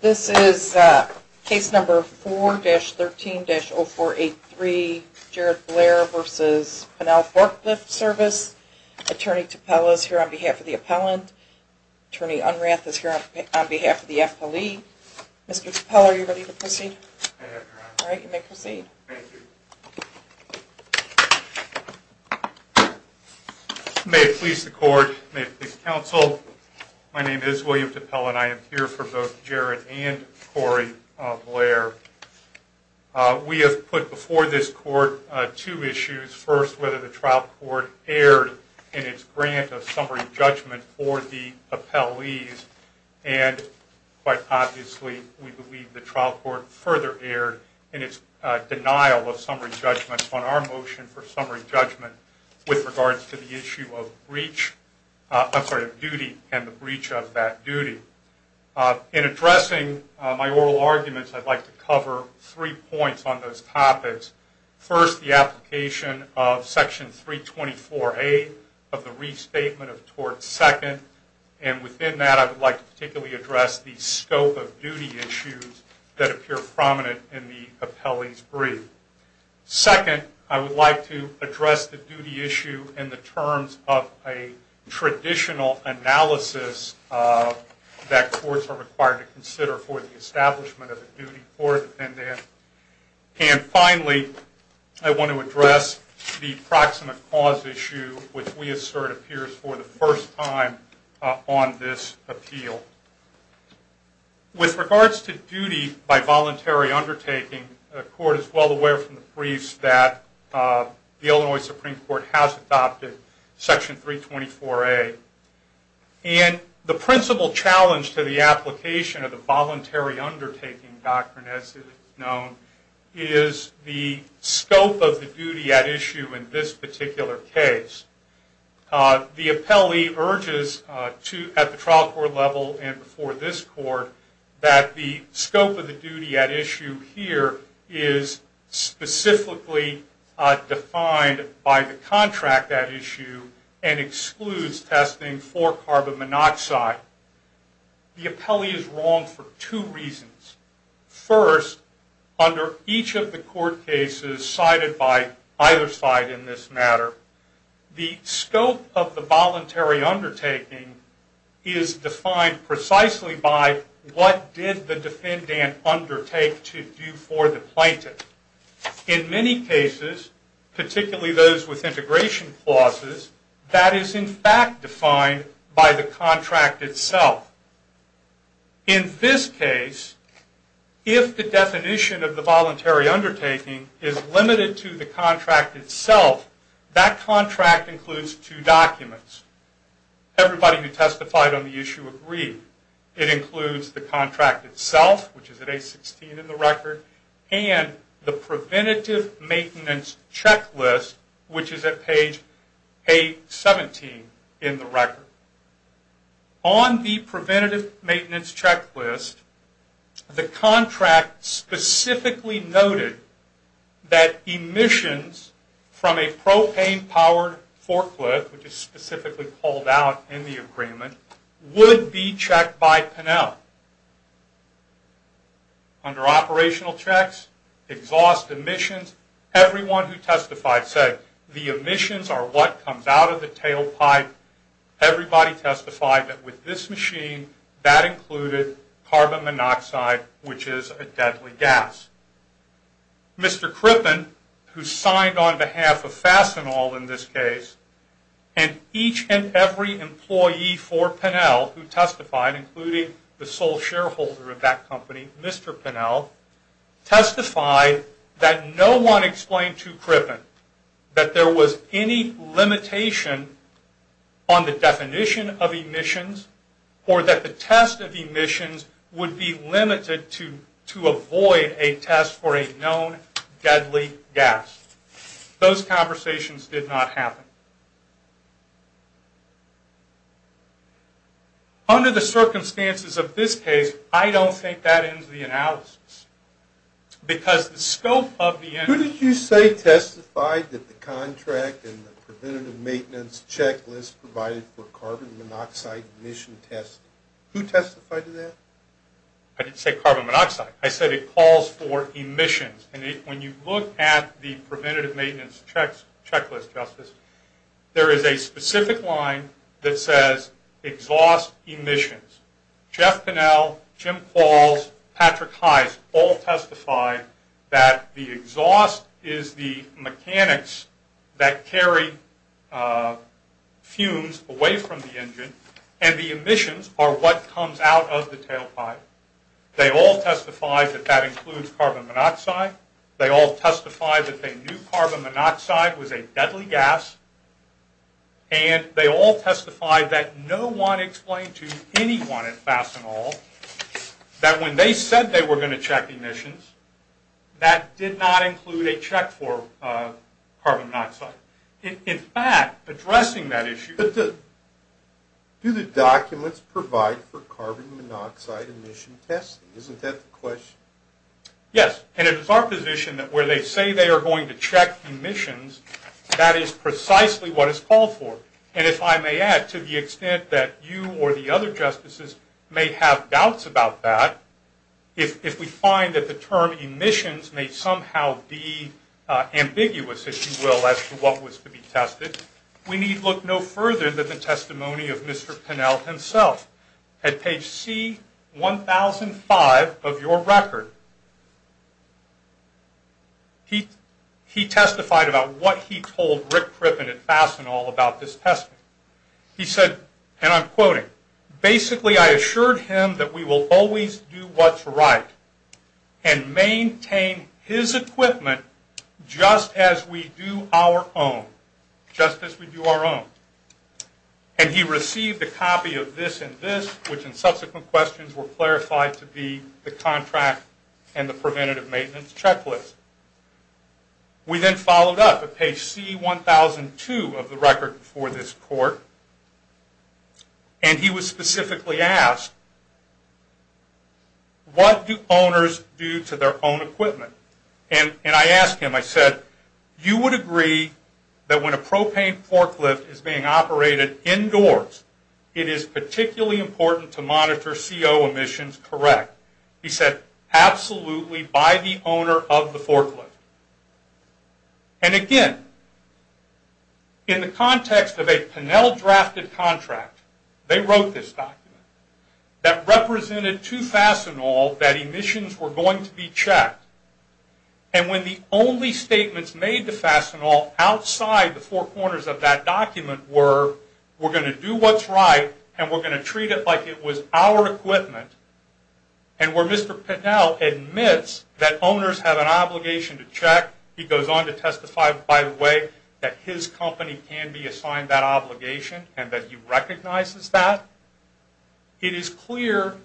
This is case number 4-13-0483, Jared Blair v. Pennell Forklift Service. Attorney Tappell is here on behalf of the appellant. Attorney Unrath is here on behalf of the appellee. Mr. Tappell, are you ready to proceed? I am, Your Honor. All right, you may proceed. Thank you. May it please the Court, may it please the Council, my name is William Tappell and I am here for both Jared and Corey Blair. We have put before this Court two issues. First, whether the trial court erred in its grant of summary judgment for the appellees, and quite obviously we believe the trial court further erred in its denial of summary judgment on our motion for summary judgment with regards to the issue of duty and the breach of that duty. In addressing my oral arguments, I'd like to cover three points on those topics. First, the application of section 324A of the restatement of tort second, and within that I would like to particularly address the scope of duty issues that appear prominent in the appellee's brief. Second, I would like to address the duty issue in the terms of a traditional analysis that courts are required to consider for the establishment of a duty for the defendant. And finally, I want to address the proximate cause issue, which we assert appears for the first time on this appeal. With regards to duty by voluntary undertaking, the Court is well aware from the briefs that the Illinois Supreme Court has adopted section 324A. And the principal challenge to the application of the voluntary undertaking doctrine, as it is known, is the scope of the duty at issue in this particular case. The appellee urges at the trial court level and before this court that the scope of the duty at issue here is specifically defined by the contract at issue and excludes testing for carbon monoxide. The appellee is wrong for two reasons. First, under each of the court cases cited by either side in this matter, the scope of the voluntary undertaking is defined precisely by what did the defendant undertake to do for the plaintiff. In many cases, particularly those with integration clauses, that is in fact defined by the contract itself. In this case, if the definition of the voluntary undertaking is limited to the contract itself, that contract includes two documents. Everybody who testified on the issue agreed. It includes the contract itself, which is at page 16 in the record, and the preventative maintenance checklist, which is at page 17 in the record. On the preventative maintenance checklist, the contract specifically noted that emissions from a propane-powered forklift, which is specifically called out in the agreement, would be checked by Pinell. Under operational checks, exhaust emissions, everyone who testified said the emissions are what comes out of the tailpipe. Everybody testified that with this machine, that included carbon monoxide, which is a deadly gas. Mr. Crippen, who signed on behalf of Fastenal in this case, and each and every employee for Pinell who testified, including the sole shareholder of that company, Mr. Pinell, testified that no one explained to Crippen that there was any limitation on the definition of emissions or that the test of emissions would be limited to avoid a test for a known deadly gas. Those conversations did not happen. Under the circumstances of this case, I don't think that ends the analysis, because the scope of the... Who did you say testified that the contract in the preventative maintenance checklist provided for carbon monoxide emission testing? Who testified to that? I didn't say carbon monoxide. I said it calls for emissions. And when you look at the preventative maintenance checklist, Justice, there is a specific line that says exhaust emissions. Jeff Pinell, Jim Qualls, Patrick Heist all testified that the exhaust is the mechanics that carry fumes away from the engine, and the emissions are what comes out of the tailpipe. They all testified that that includes carbon monoxide. They all testified that they knew carbon monoxide was a deadly gas, and they all testified that no one explained to anyone at Fastenal that when they said they were going to check emissions, that did not include a check for carbon monoxide. In fact, addressing that issue... But do the documents provide for carbon monoxide emission testing? Isn't that the question? Yes, and it is our position that where they say they are going to check emissions, that is precisely what it's called for. And if I may add, to the extent that you or the other Justices may have doubts about that, if we find that the term emissions may somehow be ambiguous, if you will, as to what was to be tested, we need look no further than the testimony of Mr. Pinell himself. At page C-1005 of your record, he testified about what he told Rick Crippen at Fastenal about this testimony. He said, and I'm quoting, basically I assured him that we will always do what's right and maintain his equipment just as we do our own. Just as we do our own. And he received a copy of this and this, which in subsequent questions were clarified to be the contract and the preventative maintenance checklist. We then followed up at page C-1002 of the record before this Court, and he was specifically asked, what do owners do to their own equipment? And I asked him, I said, if you would agree that when a propane forklift is being operated indoors, it is particularly important to monitor CO emissions, correct? He said, absolutely, by the owner of the forklift. And again, in the context of a Pinell-drafted contract, they wrote this document that represented to Fastenal that emissions were going to be checked, and when the only statements made to Fastenal outside the four corners of that document were, we're going to do what's right and we're going to treat it like it was our equipment, and where Mr. Pinell admits that owners have an obligation to check, he goes on to testify, by the way, that his company can be assigned that obligation and that he recognizes that, It is clear,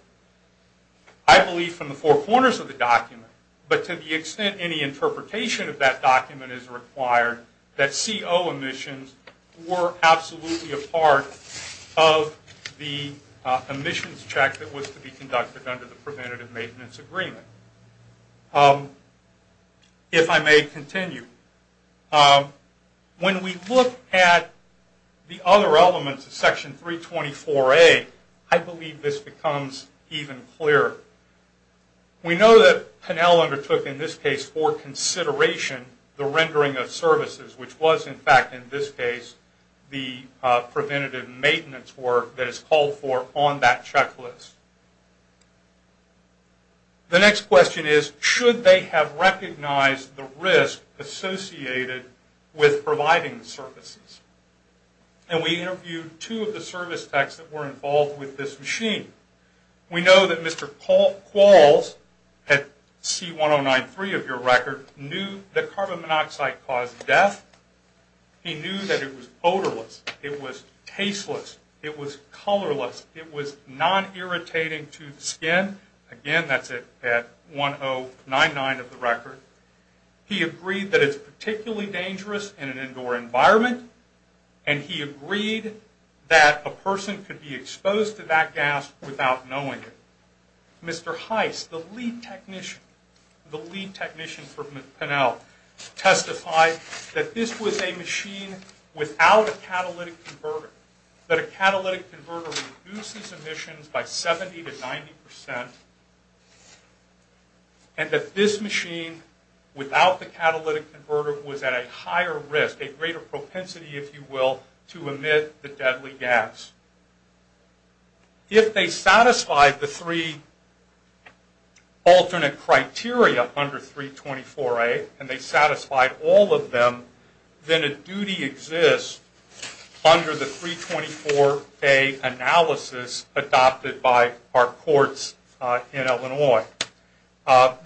I believe, from the four corners of the document, but to the extent any interpretation of that document is required, that CO emissions were absolutely a part of the emissions check that was to be conducted under the Preventative Maintenance Agreement. If I may continue, when we look at the other elements of Section 324A, I believe this becomes even clearer. We know that Pinell undertook, in this case, for consideration the rendering of services, which was, in fact, in this case, the preventative maintenance work that is called for on that checklist. The next question is, should they have recognized the risk associated with providing services? And we interviewed two of the service techs that were involved with this machine. We know that Mr. Qualls, at C1093 of your record, knew that carbon monoxide caused death. He knew that it was odorless, it was tasteless, it was colorless, it was non-irritating to the skin. Again, that's at C1099 of the record. He agreed that it's particularly dangerous in an indoor environment, and he agreed that a person could be exposed to that gas without knowing it. Mr. Heiss, the lead technician for Pinell, testified that this was a machine without a catalytic converter, that a catalytic converter reduces emissions by 70 to 90 percent, and that this machine, without the catalytic converter, was at a higher risk, a greater propensity, if you will, to emit the deadly gas. If they satisfied the three alternate criteria under 324A, and they satisfied all of them, then a duty exists under the 324A analysis adopted by our courts in Illinois.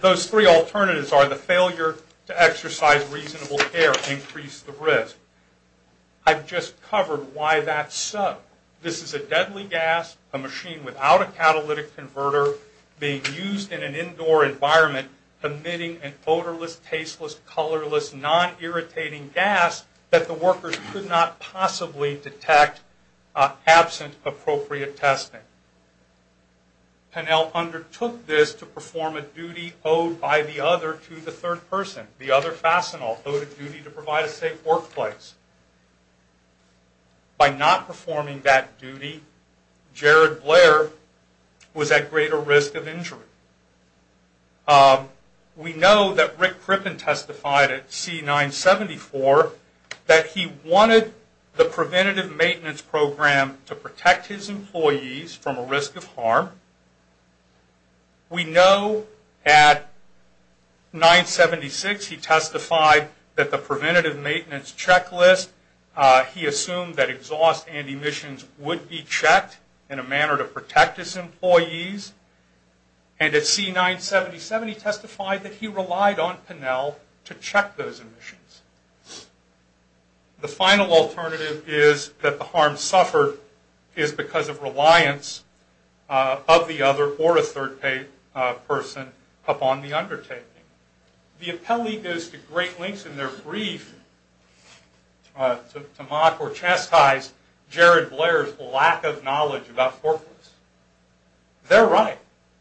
Those three alternatives are the failure to exercise reasonable care, increase the risk. I've just covered why that's so. This is a deadly gas, a machine without a catalytic converter, being used in an indoor environment, emitting an odorless, tasteless, colorless, non-irritating gas that the workers could not possibly detect absent appropriate testing. Pinell undertook this to perform a duty owed by the other to the third person, the other fascinal, owed a duty to provide a safe workplace. By not performing that duty, Jared Blair was at greater risk of injury. We know that Rick Crippen testified at C-974 that he wanted the preventative maintenance program to protect his employees from a risk of harm. We know at 976 he testified that the preventative maintenance checklist, he assumed that exhaust and emissions would be checked in a manner to protect his employees, and at C-977 he testified that he relied on Pinell to check those emissions. The final alternative is that the harm suffered is because of reliance of the other or a third person upon the undertaking. The appellee goes to great lengths in their brief to mock or chastise Jared Blair's lack of knowledge about forklifts. They're right.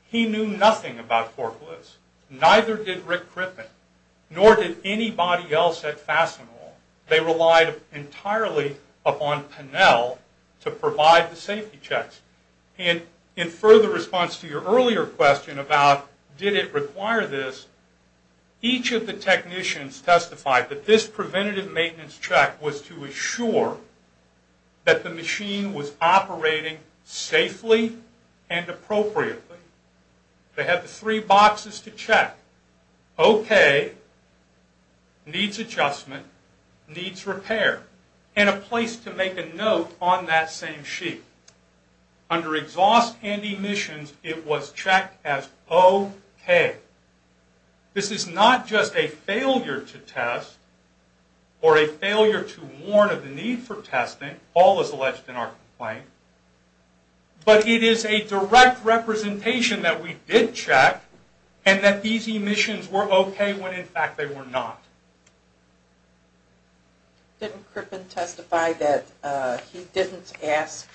He knew nothing about forklifts. Neither did Rick Crippen, nor did anybody else at Fascinal. They relied entirely upon Pinell to provide the safety checks. In further response to your earlier question about did it require this, each of the technicians testified that this preventative maintenance check was to assure that the machine was operating safely and appropriately. Okay, needs adjustment, needs repair, and a place to make a note on that same sheet. Under exhaust and emissions, it was checked as okay. This is not just a failure to test or a failure to warn of the need for testing, all is alleged in our complaint, but it is a direct representation that we did check and that these emissions were okay when in fact they were not. Didn't Crippen testify that he didn't ask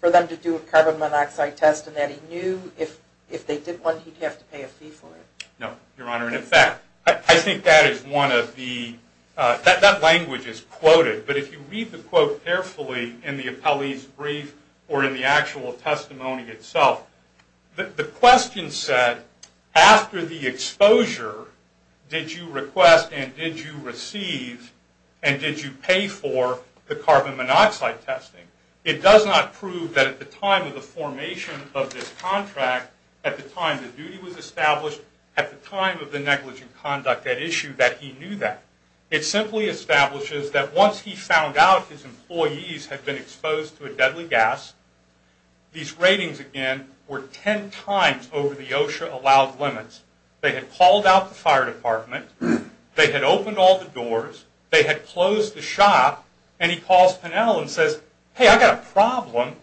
for them to do a carbon monoxide test and that he knew if they did one, he'd have to pay a fee for it? No, Your Honor. In fact, I think that is one of the, that language is quoted, but if you read the quote carefully in the appellee's brief or in the actual testimony itself, the question said, after the exposure, did you request and did you receive and did you pay for the carbon monoxide testing? It does not prove that at the time of the formation of this contract, at the time the duty was established, at the time of the negligent conduct at issue, that he knew that. It simply establishes that once he found out his employees had been exposed to a deadly gas, these ratings, again, were ten times over the OSHA allowed limits. They had called out the fire department. They had opened all the doors. They had closed the shop. And he calls Pinnell and says, hey, I've got a problem.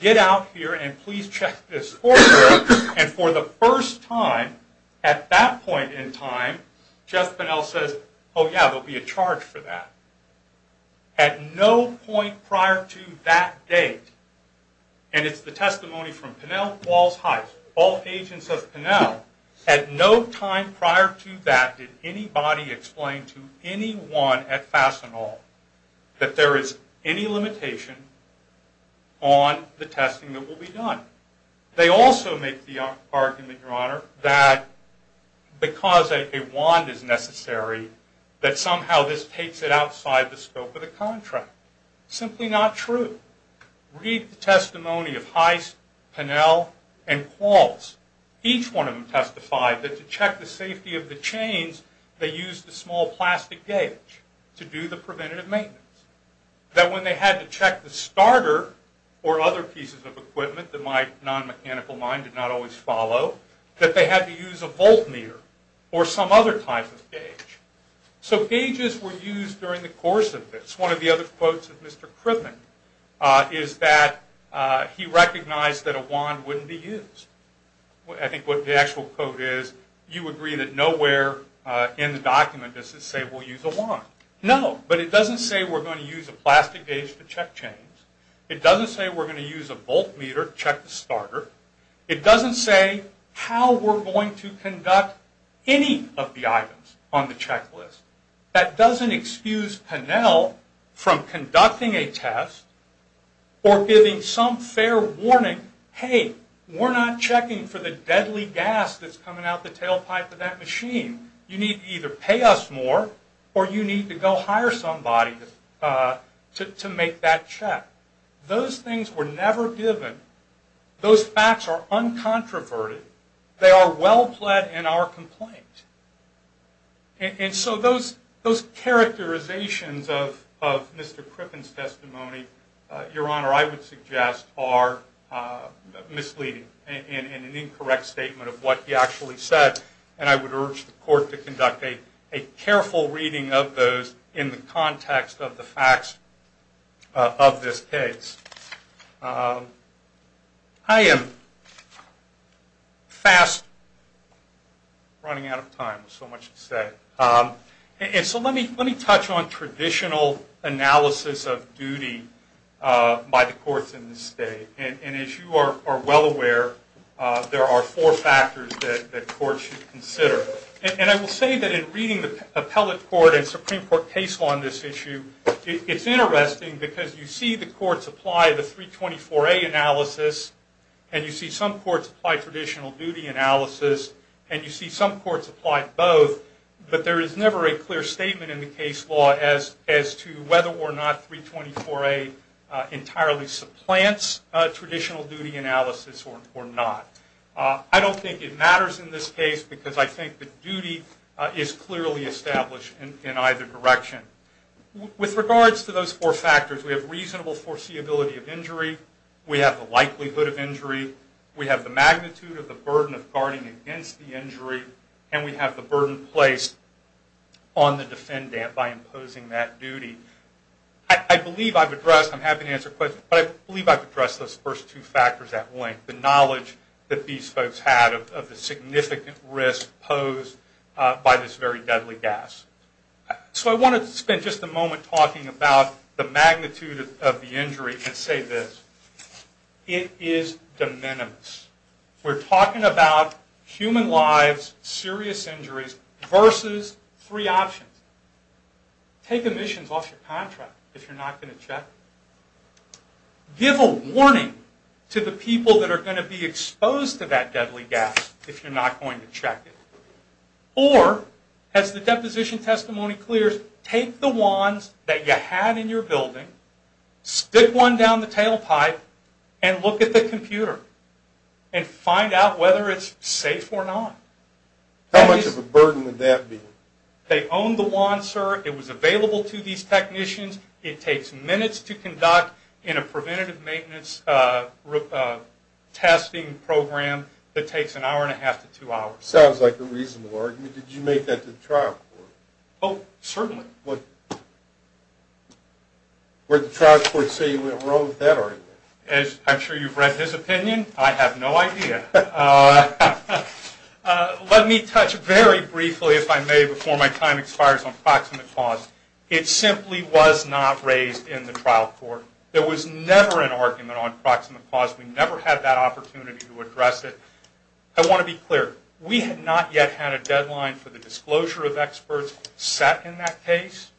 Get out here and please check this corridor. And for the first time at that point in time, Jeff Pinnell says, oh, yeah, there will be a charge for that. At no point prior to that date, and it's the testimony from Pinnell, all agents of Pinnell, at no time prior to that did anybody explain to anyone at Fastenal that there is any limitation on the testing that will be done. They also make the argument, Your Honor, that because a wand is necessary, that somehow this takes it outside the scope of the contract. Simply not true. Read the testimony of Heiss, Pinnell, and Qualls. Each one of them testified that to check the safety of the chains, they used a small plastic gauge to do the preventative maintenance. That when they had to check the starter or other pieces of equipment that my non-mechanical mind did not always follow, that they had to use a voltmeter or some other type of gauge. So gauges were used during the course of this. One of the other quotes of Mr. Kriven is that he recognized that a wand wouldn't be used. I think what the actual quote is, you agree that nowhere in the document does it say we'll use a wand. No, but it doesn't say we're going to use a plastic gauge to check chains. It doesn't say we're going to use a voltmeter to check the starter. It doesn't say how we're going to conduct any of the items on the checklist. That doesn't excuse Pinnell from conducting a test or giving some fair warning. Hey, we're not checking for the deadly gas that's coming out the tailpipe of that machine. You need to either pay us more or you need to go hire somebody to make that check. Those things were never given. Those facts are uncontroverted. They are well-pled in our complaint. And so those characterizations of Mr. Kriven's testimony, Your Honor, I would suggest are misleading and an incorrect statement of what he actually said, and I would urge the court to conduct a careful reading of those in the context of the facts of this case. I am fast running out of time. There's so much to say. And so let me touch on traditional analysis of duty by the courts in this state. And as you are well aware, there are four factors that courts should consider. And I will say that in reading the appellate court and Supreme Court case law on this issue, it's interesting because you see the courts apply the 324A analysis, and you see some courts apply traditional duty analysis, and you see some courts apply both, but there is never a clear statement in the case law as to whether or not 324A entirely supplants traditional duty analysis or not. I don't think it matters in this case because I think the duty is clearly established in either direction. With regards to those four factors, we have reasonable foreseeability of injury. We have the likelihood of injury. We have the magnitude of the burden of guarding against the injury. And we have the burden placed on the defendant by imposing that duty. I believe I've addressed those first two factors at length, the knowledge that these folks had of the significant risk posed by this very deadly gas. So I want to spend just a moment talking about the magnitude of the injury and say this. It is de minimis. We're talking about human lives, serious injuries versus three options. Take emissions off your contract if you're not going to check. Give a warning to the people that are going to be exposed to that deadly gas if you're not going to check it. Or, as the deposition testimony clears, take the wands that you had in your building, stick one down the tailpipe, and look at the computer and find out whether it's safe or not. How much of a burden would that be? They owned the wand, sir. It was available to these technicians. It takes minutes to conduct in a preventative maintenance testing program that takes an hour and a half to two hours. Sounds like a reasonable argument. Did you make that to the trial court? Oh, certainly. Where did the trial court say you wrote that argument? I'm sure you've read his opinion. I have no idea. Let me touch very briefly, if I may, before my time expires, on proximate cause. It simply was not raised in the trial court. There was never an argument on proximate cause. We never had that opportunity to address it. I want to be clear. We had not yet had a deadline for the disclosure of experts set in that case.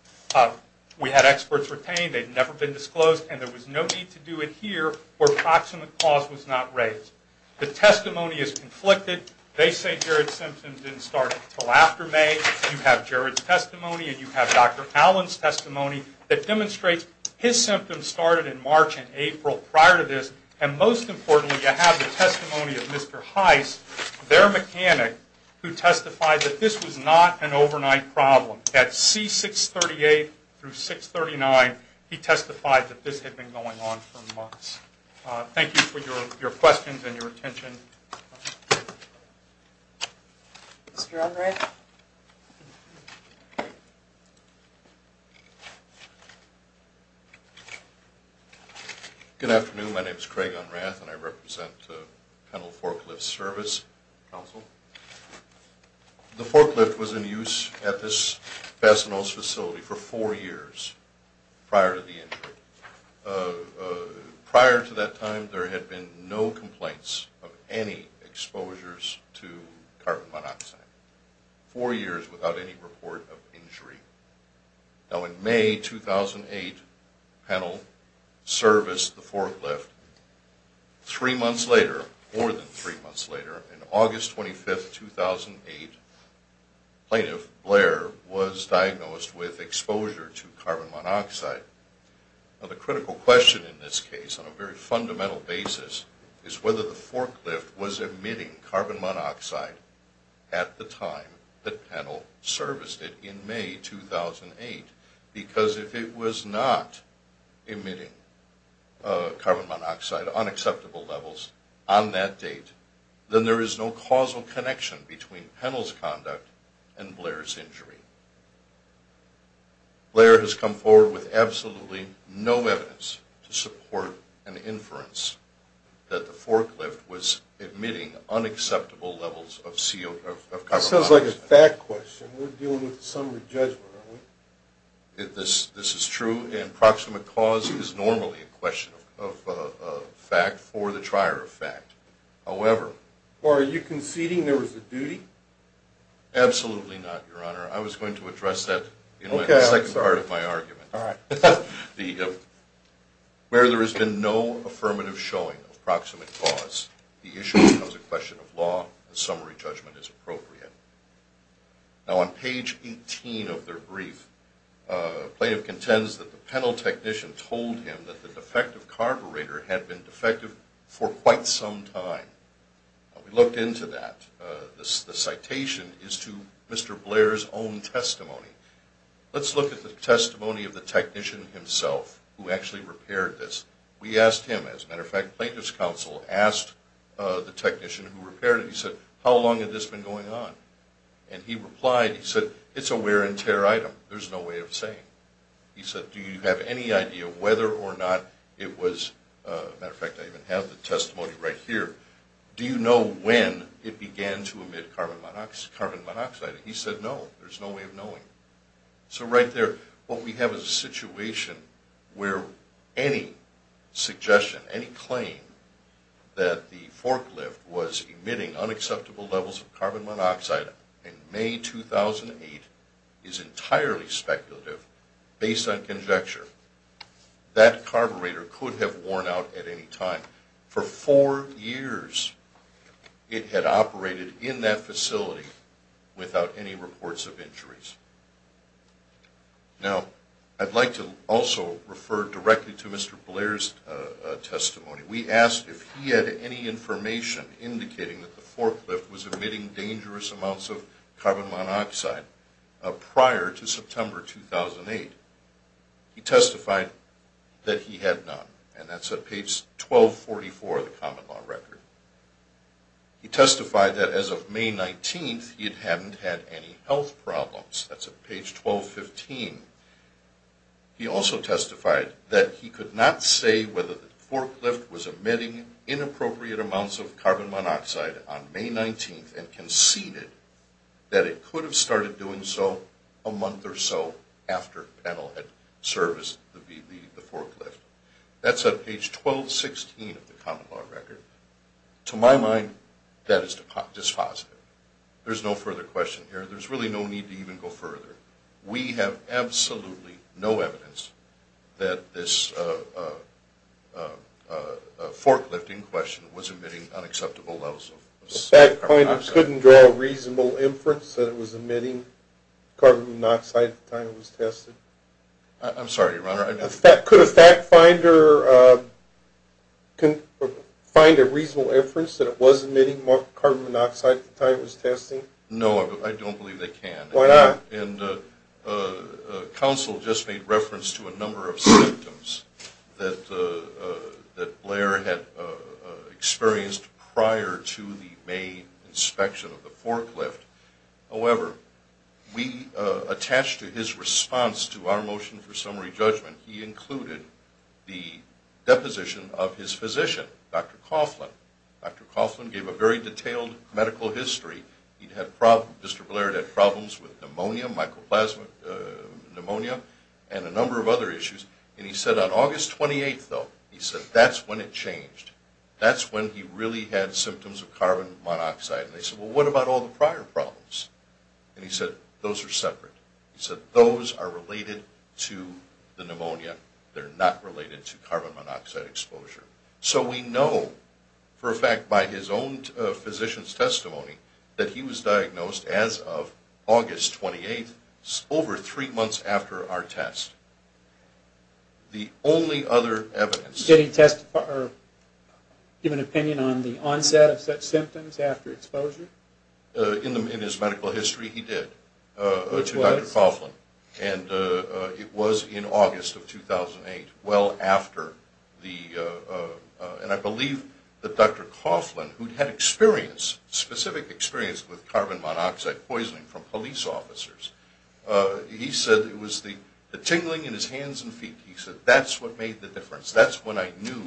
We had experts retained. They'd never been disclosed. And there was no need to do it here where proximate cause was not raised. The testimony is conflicted. They say Gerard's symptoms didn't start until after May. You have Gerard's testimony and you have Dr. Allen's testimony that demonstrates his symptoms started in March and April prior to this. And most importantly, you have the testimony of Mr. Heiss, their mechanic, who testified that this was not an overnight problem. At C638 through 639, he testified that this had been going on for months. Thank you for your questions and your attention. Mr. Andre? Good afternoon. My name is Craig Unrath, and I represent the Penal Forklift Service Council. The forklift was in use at this Fastenals facility for four years prior to the injury. Prior to that time, there had been no complaints of any exposures to carbon monoxide. Four years without any report of injury. Now, in May 2008, Penal Service, the forklift, three months later, more than three months later, on August 25, 2008, Plaintiff Blair was diagnosed with exposure to carbon monoxide. Now, the critical question in this case, on a very fundamental basis, is whether the forklift was emitting carbon monoxide at the time that Penal serviced it in May 2008. Because if it was not emitting carbon monoxide on acceptable levels on that date, then there is no causal connection between Penal's conduct and Blair's injury. Blair has come forward with absolutely no evidence to support an inference that the forklift was emitting unacceptable levels of carbon monoxide. This sounds like a fact question. We're dealing with a summary judgment, aren't we? This is true, and proximate cause is normally a question of fact for the trier of fact. However... Are you conceding there was a duty? Absolutely not, Your Honor. I was going to address that in the second part of my argument. Where there has been no affirmative showing of proximate cause, the issue becomes a question of law, and summary judgment is appropriate. Now, on page 18 of their brief, Plaintiff contends that the Penal technician told him that the defective carburetor had been defective for quite some time. We looked into that. The citation is to Mr. Blair's own testimony. Let's look at the testimony of the technician himself, who actually repaired this. We asked him, as a matter of fact, Plaintiff's counsel asked the technician who repaired it. He said, how long had this been going on? And he replied, he said, it's a wear and tear item. There's no way of saying. He said, do you have any idea whether or not it was... Do you know when it began to emit carbon monoxide? He said, no, there's no way of knowing. So right there, what we have is a situation where any suggestion, any claim that the forklift was emitting unacceptable levels of carbon monoxide in May 2008 is entirely speculative based on conjecture. That carburetor could have worn out at any time. For four years, it had operated in that facility without any reports of injuries. Now, I'd like to also refer directly to Mr. Blair's testimony. We asked if he had any information indicating that the forklift was emitting dangerous amounts of carbon monoxide prior to September 2008. He testified that he had none. And that's at page 1244 of the common law record. He testified that as of May 19th, he hadn't had any health problems. That's at page 1215. He also testified that he could not say whether the forklift was emitting inappropriate amounts of carbon monoxide on May 19th and conceded that it could have started doing so a month or so after Pennell had serviced the forklift. That's at page 1216 of the common law record. To my mind, that is dispositive. There's no further question here. There's really no need to even go further. We have absolutely no evidence that this forklifting question was emitting unacceptable levels of carbon monoxide. At that point, you couldn't draw a reasonable inference that it was emitting carbon monoxide at the time it was tested? I'm sorry, Your Honor. Could a fact finder find a reasonable inference that it was emitting more carbon monoxide at the time it was tested? No, I don't believe they can. Why not? And counsel just made reference to a number of symptoms that Blair had experienced prior to the May inspection of the forklift. However, we attached to his response to our motion for summary judgment, he included the deposition of his physician, Dr. Coughlin. Dr. Coughlin gave a very detailed medical history. Mr. Blair had problems with pneumonia, mycoplasma pneumonia, and a number of other issues. And he said on August 28th, though, he said that's when it changed. That's when he really had symptoms of carbon monoxide. And they said, well, what about all the prior problems? And he said, those are separate. He said, those are related to the pneumonia. They're not related to carbon monoxide exposure. So we know for a fact by his own physician's testimony that he was diagnosed as of August 28th, over three months after our test. The only other evidence. Did he testify or give an opinion on the onset of such symptoms after exposure? In his medical history, he did. Which was? To Dr. Coughlin. And it was in August of 2008, well after the, and I believe that Dr. Coughlin, who had experience, specific experience with carbon monoxide poisoning from police officers, he said it was the tingling in his hands and feet. He said, that's what made the difference. That's when I knew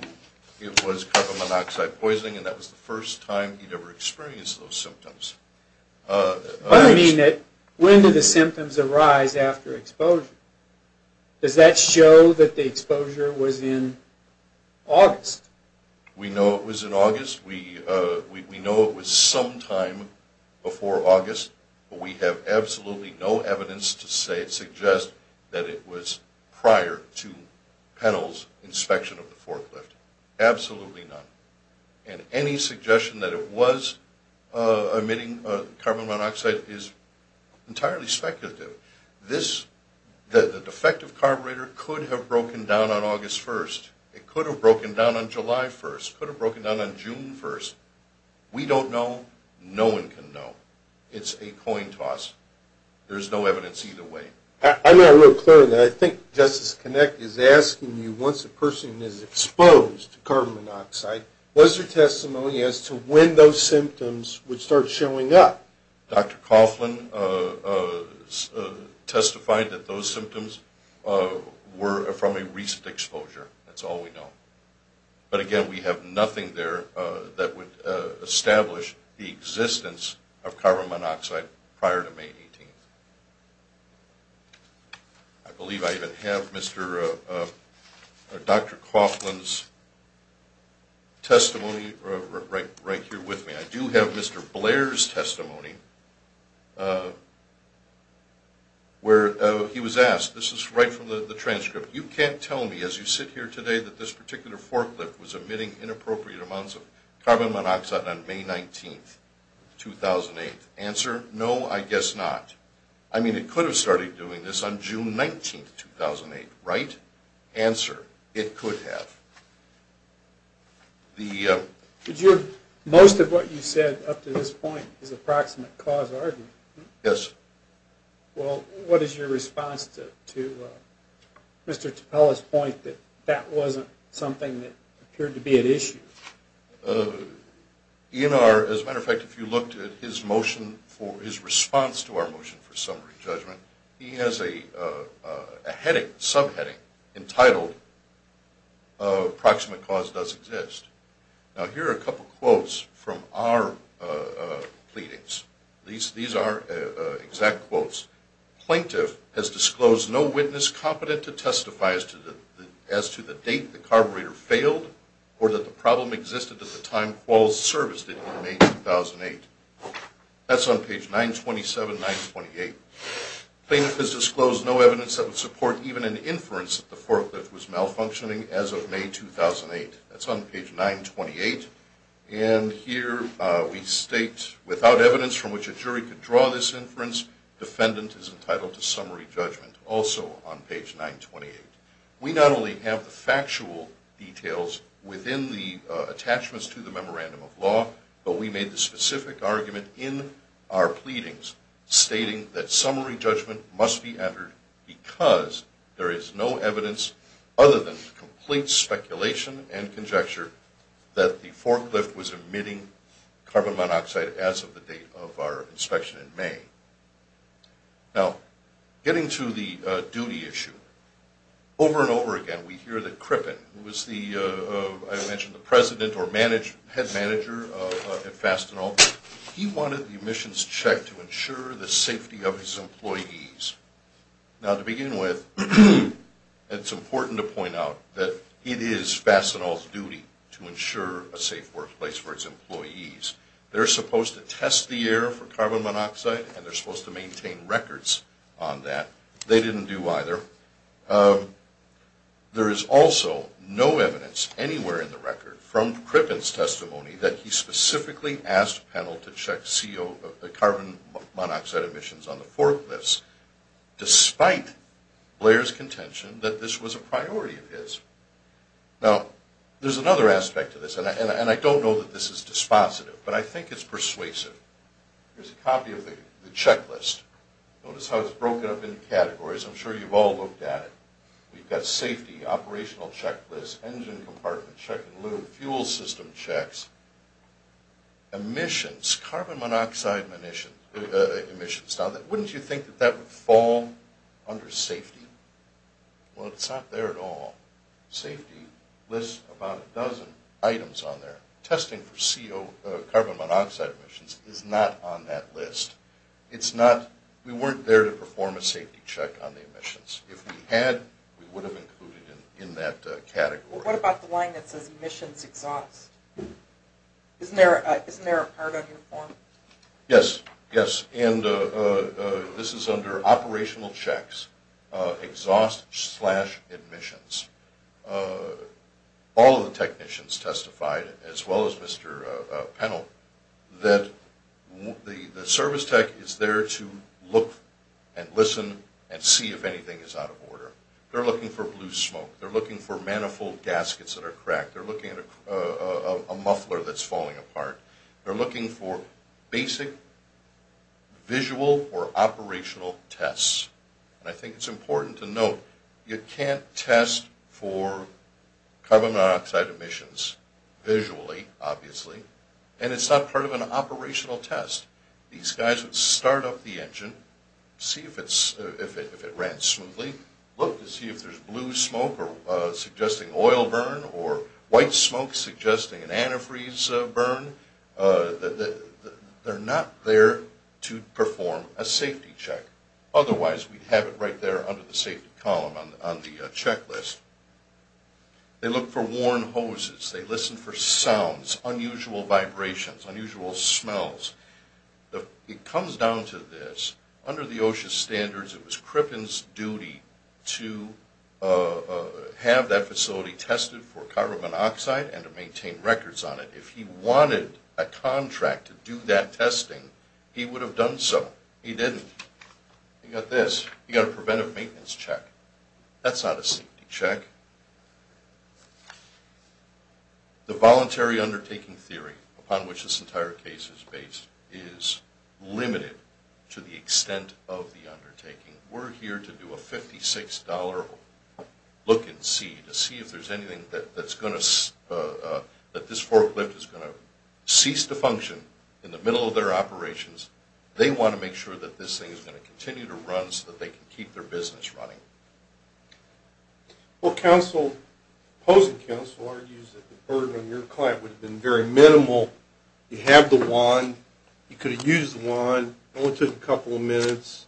it was carbon monoxide poisoning, and that was the first time he'd ever experienced those symptoms. I mean, when did the symptoms arise after exposure? Does that show that the exposure was in August? We know it was in August. We know it was sometime before August. We have absolutely no evidence to suggest that it was prior to Pennell's inspection of the forklift. Absolutely none. And any suggestion that it was emitting carbon monoxide is entirely speculative. The defective carburetor could have broken down on August 1st. It could have broken down on July 1st. It could have broken down on June 1st. We don't know. No one can know. It's a coin toss. There's no evidence either way. I'm not real clear on that. I think Justice Connick is asking you, once a person is exposed to carbon monoxide, what is your testimony as to when those symptoms would start showing up? Dr. Coughlin testified that those symptoms were from a recent exposure. That's all we know. But, again, we have nothing there that would establish the existence of carbon monoxide prior to May 18th. I believe I even have Dr. Coughlin's testimony right here with me. I do have Mr. Blair's testimony where he was asked. This is right from the transcript. You can't tell me, as you sit here today, that this particular forklift was emitting inappropriate amounts of carbon monoxide on May 19th, 2008. Answer, no, I guess not. I mean, it could have started doing this on June 19th, 2008, right? Answer, it could have. Most of what you said up to this point is approximate cause argument. Yes. Well, what is your response to Mr. Tappella's point that that wasn't something that appeared to be at issue? As a matter of fact, if you looked at his motion, his response to our motion for summary judgment, he has a heading, subheading, entitled, Approximate Cause Does Exist. Now, here are a couple quotes from our pleadings. These are exact quotes. Plaintiff has disclosed no witness competent to testify as to the date the carburetor failed or that the problem existed at the time Qual's serviced it in May 2008. That's on page 927, 928. Plaintiff has disclosed no evidence that would support even an inference that the forklift was malfunctioning as of May 2008. That's on page 928. And here we state, without evidence from which a jury could draw this inference, defendant is entitled to summary judgment, also on page 928. We not only have the factual details within the attachments to the memorandum of law, but we made the specific argument in our pleadings stating that summary judgment must be entered because there is no evidence other than complete speculation and conjecture that the forklift was emitting carbon monoxide as of the date of our inspection in May. Now, getting to the duty issue, over and over again we hear that Crippen, who was the, I mentioned, the president or head manager at Fastenal, he wanted the emissions checked to ensure the safety of his employees. Now, to begin with, it's important to point out that it is Fastenal's duty to ensure a safe workplace for its employees. They're supposed to test the air for carbon monoxide and they're supposed to maintain records on that. They didn't do either. There is also no evidence anywhere in the record from Crippen's testimony that he specifically asked Pennell to check CO, the carbon monoxide emissions on the forklifts, despite Blair's contention that this was a priority of his. Now, there's another aspect to this, and I don't know that this is dispositive, but I think it's persuasive. Here's a copy of the checklist. Notice how it's broken up into categories. I'm sure you've all looked at it. We've got safety, operational checklist, engine compartment check and lube, fuel system checks, emissions, carbon monoxide emissions. Now, wouldn't you think that that would fall under safety? Well, it's not there at all. Safety lists about a dozen items on there. Testing for carbon monoxide emissions is not on that list. We weren't there to perform a safety check on the emissions. If we had, we would have included it in that category. What about the line that says emissions exhaust? Isn't there a part on your form? Yes, yes, and this is under operational checks, exhaust slash emissions. All of the technicians testified, as well as Mr. Pennell, that the service tech is there to look and listen and see if anything is out of order. They're looking for blue smoke. They're looking for manifold gaskets that are cracked. They're looking at a muffler that's falling apart. They're looking for basic visual or operational tests. I think it's important to note you can't test for carbon monoxide emissions visually, obviously, and it's not part of an operational test. These guys would start up the engine, see if it ran smoothly, look to see if there's blue smoke suggesting oil burn or white smoke suggesting an antifreeze burn. They're not there to perform a safety check. Otherwise, we'd have it right there under the safety column on the checklist. They look for worn hoses. They listen for sounds, unusual vibrations, unusual smells. It comes down to this. Under the OSHA standards, it was Crippen's duty to have that facility tested for carbon monoxide and to maintain records on it. If he wanted a contract to do that testing, he would have done so. He didn't. He got this. He got a preventive maintenance check. That's not a safety check. The voluntary undertaking theory upon which this entire case is based is limited to the extent of the undertaking. We're here to do a $56 look and see to see if there's anything that this forklift is going to cease to function in the middle of their operations. They want to make sure that this thing is going to continue to run so that they can keep their business running. Well, opposing counsel argues that the burden on your client would have been very minimal. You have the wand. You could have used the wand. It only took a couple of minutes,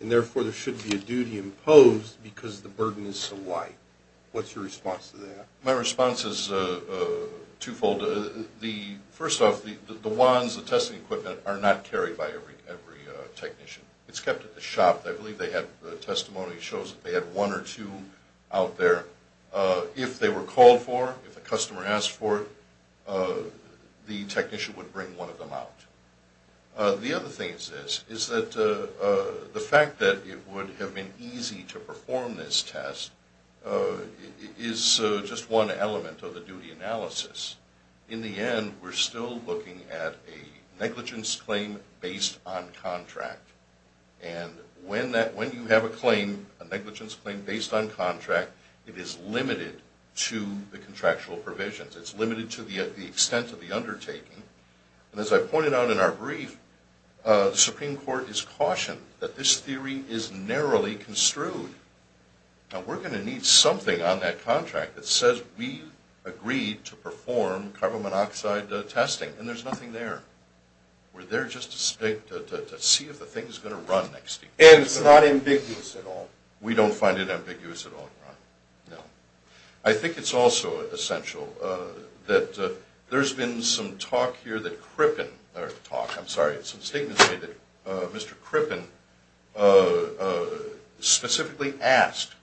and therefore there shouldn't be a duty imposed because the burden is so light. What's your response to that? My response is twofold. First off, the wands, the testing equipment, are not carried by every technician. It's kept at the shop. I believe they have testimony that shows that they had one or two out there. If they were called for, if a customer asked for it, the technician would bring one of them out. The other thing is this, is that the fact that it would have been easy to perform this test is just one element of the duty analysis. In the end, we're still looking at a negligence claim based on contract. And when you have a negligence claim based on contract, it is limited to the contractual provisions. It's limited to the extent of the undertaking. And as I pointed out in our brief, the Supreme Court has cautioned that this theory is narrowly construed. Now, we're going to need something on that contract that says we agreed to perform carbon monoxide testing. And there's nothing there. We're there just to see if the thing is going to run next week. And it's not ambiguous at all. We don't find it ambiguous at all. No. I think it's also essential that there's been some talk here that Crippen, or talk, I'm sorry, some statements made that Mr. Crippen specifically asked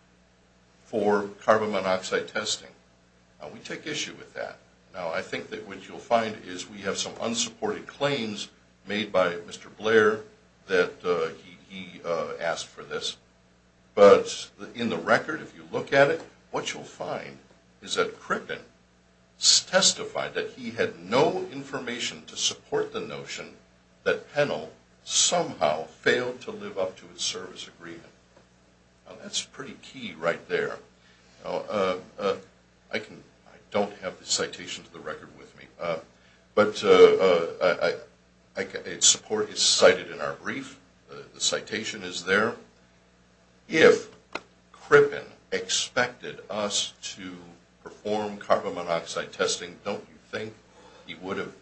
for carbon monoxide testing. Now, we take issue with that. Now, I think that what you'll find is we have some unsupported claims made by Mr. Blair that he asked for this. But in the record, if you look at it, what you'll find is that Crippen testified that he had no information to support the notion that Pennell somehow failed to live up to his service agreement. Now, that's pretty key right there. I don't have the citation to the record with me. But its support is cited in our brief. The citation is there. If Crippen expected us to perform carbon monoxide testing, don't you think he would have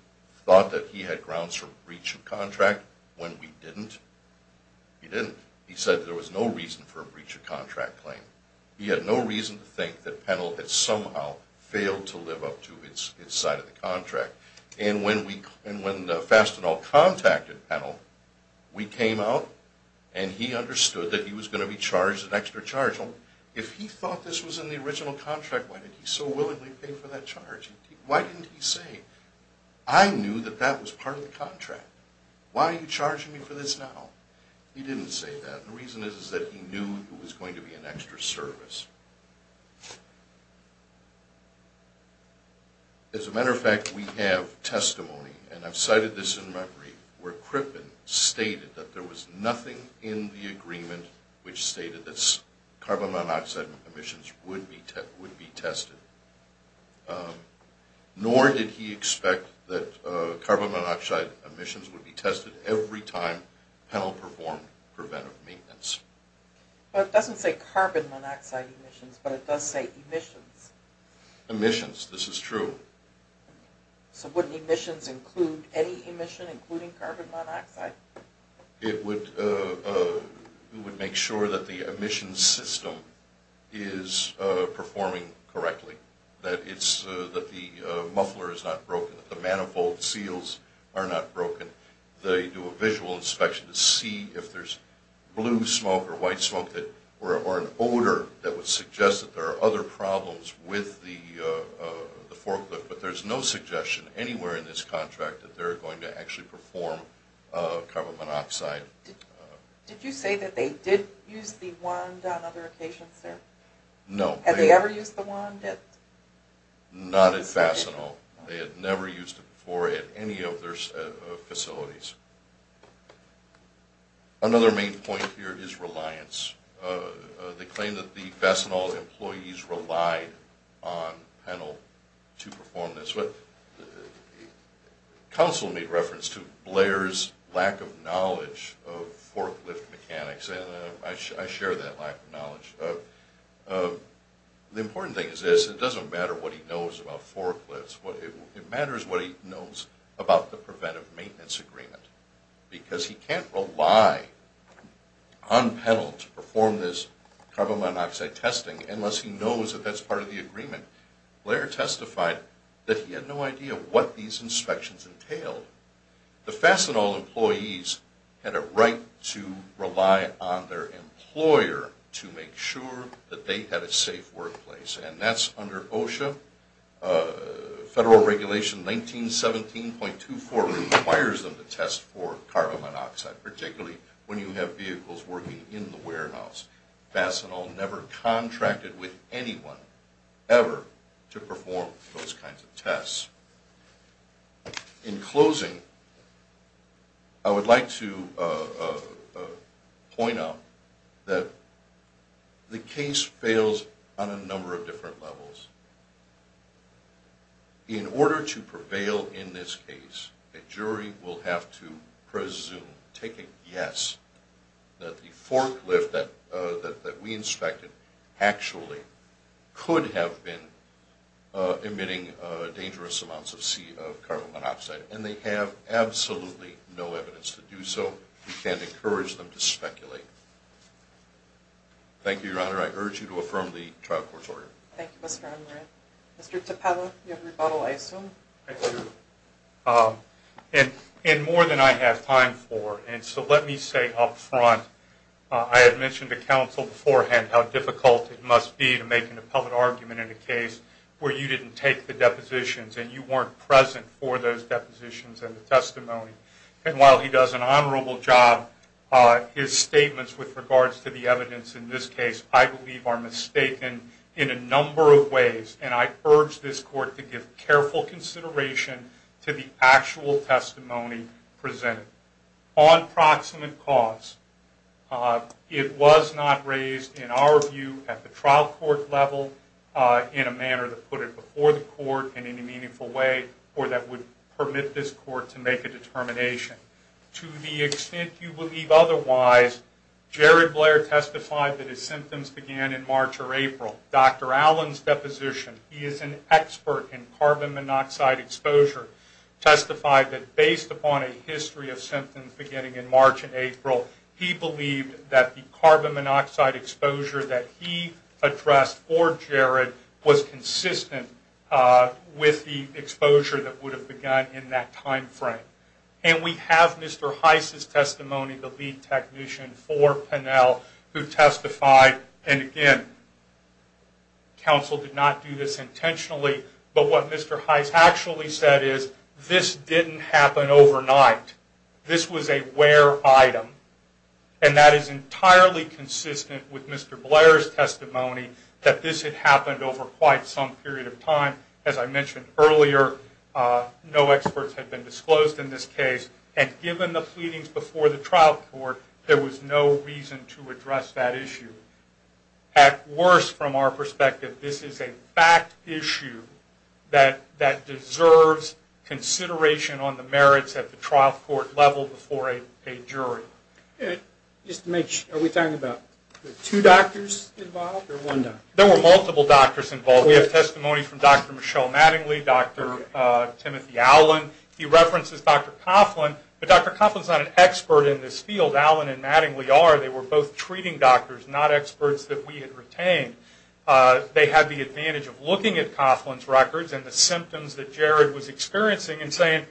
thought that he had grounds for breach of contract when we didn't? He didn't. He said there was no reason for a breach of contract claim. He had no reason to think that Pennell had somehow failed to live up to its side of the contract. And when Fastenal contacted Pennell, we came out, and he understood that he was going to be charged an extra charge. If he thought this was in the original contract, why did he so willingly pay for that charge? Why didn't he say, I knew that that was part of the contract. Why are you charging me for this now? He didn't say that. The reason is that he knew it was going to be an extra service. As a matter of fact, we have testimony, and I've cited this in my brief, where Crippen stated that there was nothing in the agreement which stated that carbon monoxide emissions would be tested. Nor did he expect that carbon monoxide emissions would be tested every time Pennell performed preventive maintenance. It doesn't say carbon monoxide emissions, but it does say emissions. Emissions. This is true. So wouldn't emissions include any emission, including carbon monoxide? It would make sure that the emissions system is performing correctly, that the muffler is not broken, that the manifold seals are not broken, that they do a visual inspection to see if there's blue smoke or white smoke or an odor that would suggest that there are other problems with the forklift. But there's no suggestion anywhere in this contract that they're going to actually perform carbon monoxide. Did you say that they did use the wand on other occasions there? No. Had they ever used the wand? Not at Fasenal. They had never used it before at any of their facilities. Another main point here is reliance. They claim that the Fasenal employees relied on Pennell to perform this. Council made reference to Blair's lack of knowledge of forklift mechanics, and I share that lack of knowledge. The important thing is this. It doesn't matter what he knows about forklifts. It matters what he knows about the preventive maintenance agreement. Because he can't rely on Pennell to perform this carbon monoxide testing unless he knows that that's part of the agreement. Blair testified that he had no idea what these inspections entailed. The Fasenal employees had a right to rely on their employer to make sure that they had a safe workplace. And that's under OSHA. Federal Regulation 1917.24 requires them to test for carbon monoxide, particularly when you have vehicles working in the warehouse. Fasenal never contracted with anyone ever to perform those kinds of tests. In closing, I would like to point out that the case fails on a number of different levels. In order to prevail in this case, a jury will have to presume, take a guess, that the forklift that we inspected actually could have been emitting dangerous amounts of carbon monoxide. And they have absolutely no evidence to do so. We can't encourage them to speculate. Thank you, Your Honor. I urge you to affirm the trial court's order. Thank you, Mr. Unruh. Mr. Tappella, you have rebuttal, I assume? I do. And more than I have time for. And so let me say up front, I had mentioned to counsel beforehand how difficult it must be to make an appellate argument in a case where you didn't take the depositions and you weren't present for those depositions and the testimony. And while he does an honorable job, his statements with regards to the evidence in this case, I believe, are mistaken in a number of ways. And I urge this court to give careful consideration to the actual testimony presented. On proximate cause, it was not raised, in our view, at the trial court level in a manner that put it before the court in any meaningful way or that would permit this court to make a determination. To the extent you believe otherwise, Jared Blair testified that his symptoms began in March or April. Dr. Allen's deposition, he is an expert in carbon monoxide exposure, testified that based upon a history of symptoms beginning in March and April, he believed that the carbon monoxide exposure that he addressed for Jared was consistent with the exposure that would have begun in that time frame. And we have Mr. Heiss' testimony, the lead technician for Pinnell, who testified, and again, counsel did not do this intentionally, but what Mr. Heiss actually said is, this didn't happen overnight. This was a rare item. And that is entirely consistent with Mr. Blair's testimony that this had happened over quite some period of time. As I mentioned earlier, no experts had been disclosed in this case, and given the pleadings before the trial court, there was no reason to address that issue. At worst, from our perspective, this is a fact issue that deserves consideration on the merits at the trial court level before a jury. Just to make sure, are we talking about two doctors involved or one doctor? There were multiple doctors involved. We have testimony from Dr. Michelle Mattingly, Dr. Timothy Allen. He references Dr. Coughlin, but Dr. Coughlin is not an expert in this field. Allen and Mattingly are. They were both treating doctors, not experts that we had retained. They had the advantage of looking at Coughlin's records and the symptoms that Jared was experiencing and saying,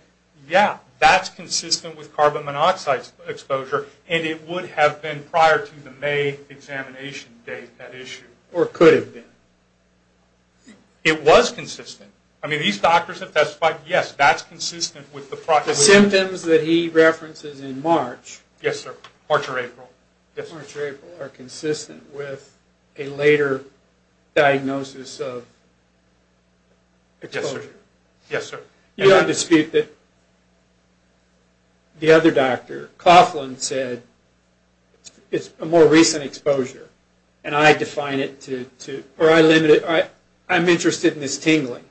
yeah, that's consistent with carbon monoxide exposure, and it would have been prior to the May examination date, that issue. Or could have been. It was consistent. I mean, these doctors have testified, yes, that's consistent with the process. The symptoms that he references in March. Yes, sir. March or April. March or April are consistent with a later diagnosis of exposure. Yes, sir. You don't dispute that the other doctor, Coughlin, said it's a more recent exposure, and I define it to, or I limit it, I'm interested in this tingling.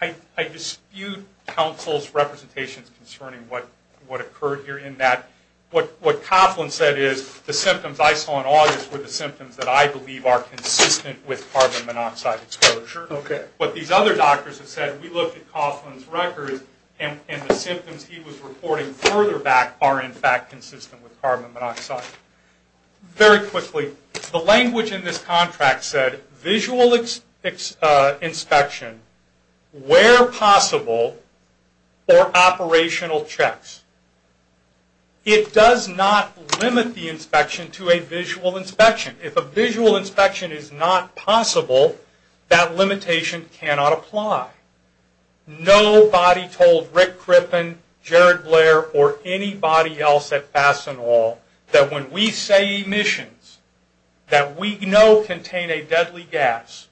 I dispute counsel's representations concerning what occurred here in that. What Coughlin said is the symptoms I saw in August were the symptoms that I believe are consistent with carbon monoxide exposure. Okay. What these other doctors have said, we looked at Coughlin's records and the symptoms he was reporting further back are, in fact, consistent with carbon monoxide. Very quickly, the language in this contract said visual inspection where possible or operational checks. It does not limit the inspection to a visual inspection. If a visual inspection is not possible, that limitation cannot apply. Nobody told Rick Crippen, Jared Blair, or anybody else at Fastenal that when we say emissions, that we know contain a deadly gas,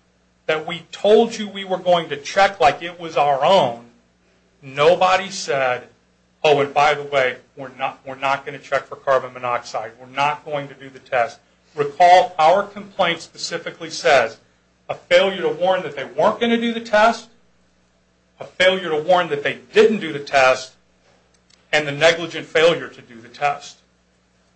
that we told you we were going to check like it was our own, nobody said, oh, and by the way, we're not going to check for carbon monoxide. We're not going to do the test. Recall our complaint specifically says a failure to warn that they weren't going to do the test, a failure to warn that they didn't do the test, and the negligent failure to do the test.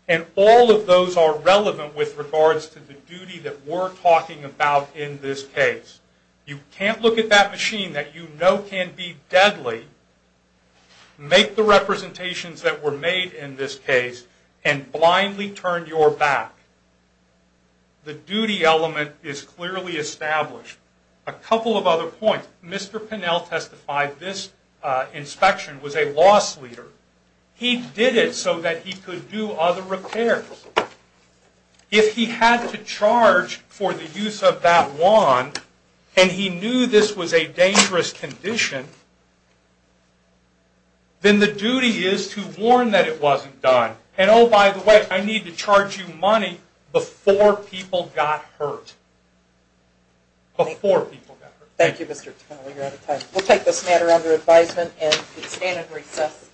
And all of those are relevant with regards to the duty that we're talking about in this case. You can't look at that machine that you know can be deadly, make the representations that were made in this case, and blindly turn your back. The duty element is clearly established. A couple of other points. Mr. Pinnell testified this inspection was a loss leader. He did it so that he could do other repairs. If he had to charge for the use of that wand and he knew this was a dangerous condition, then the duty is to warn that it wasn't done. And, oh, by the way, I need to charge you money before people got hurt. Before people got hurt. Thank you, Mr. Pinnell. You're out of time. We'll take this matter under advisement and stand at recess. Thank you.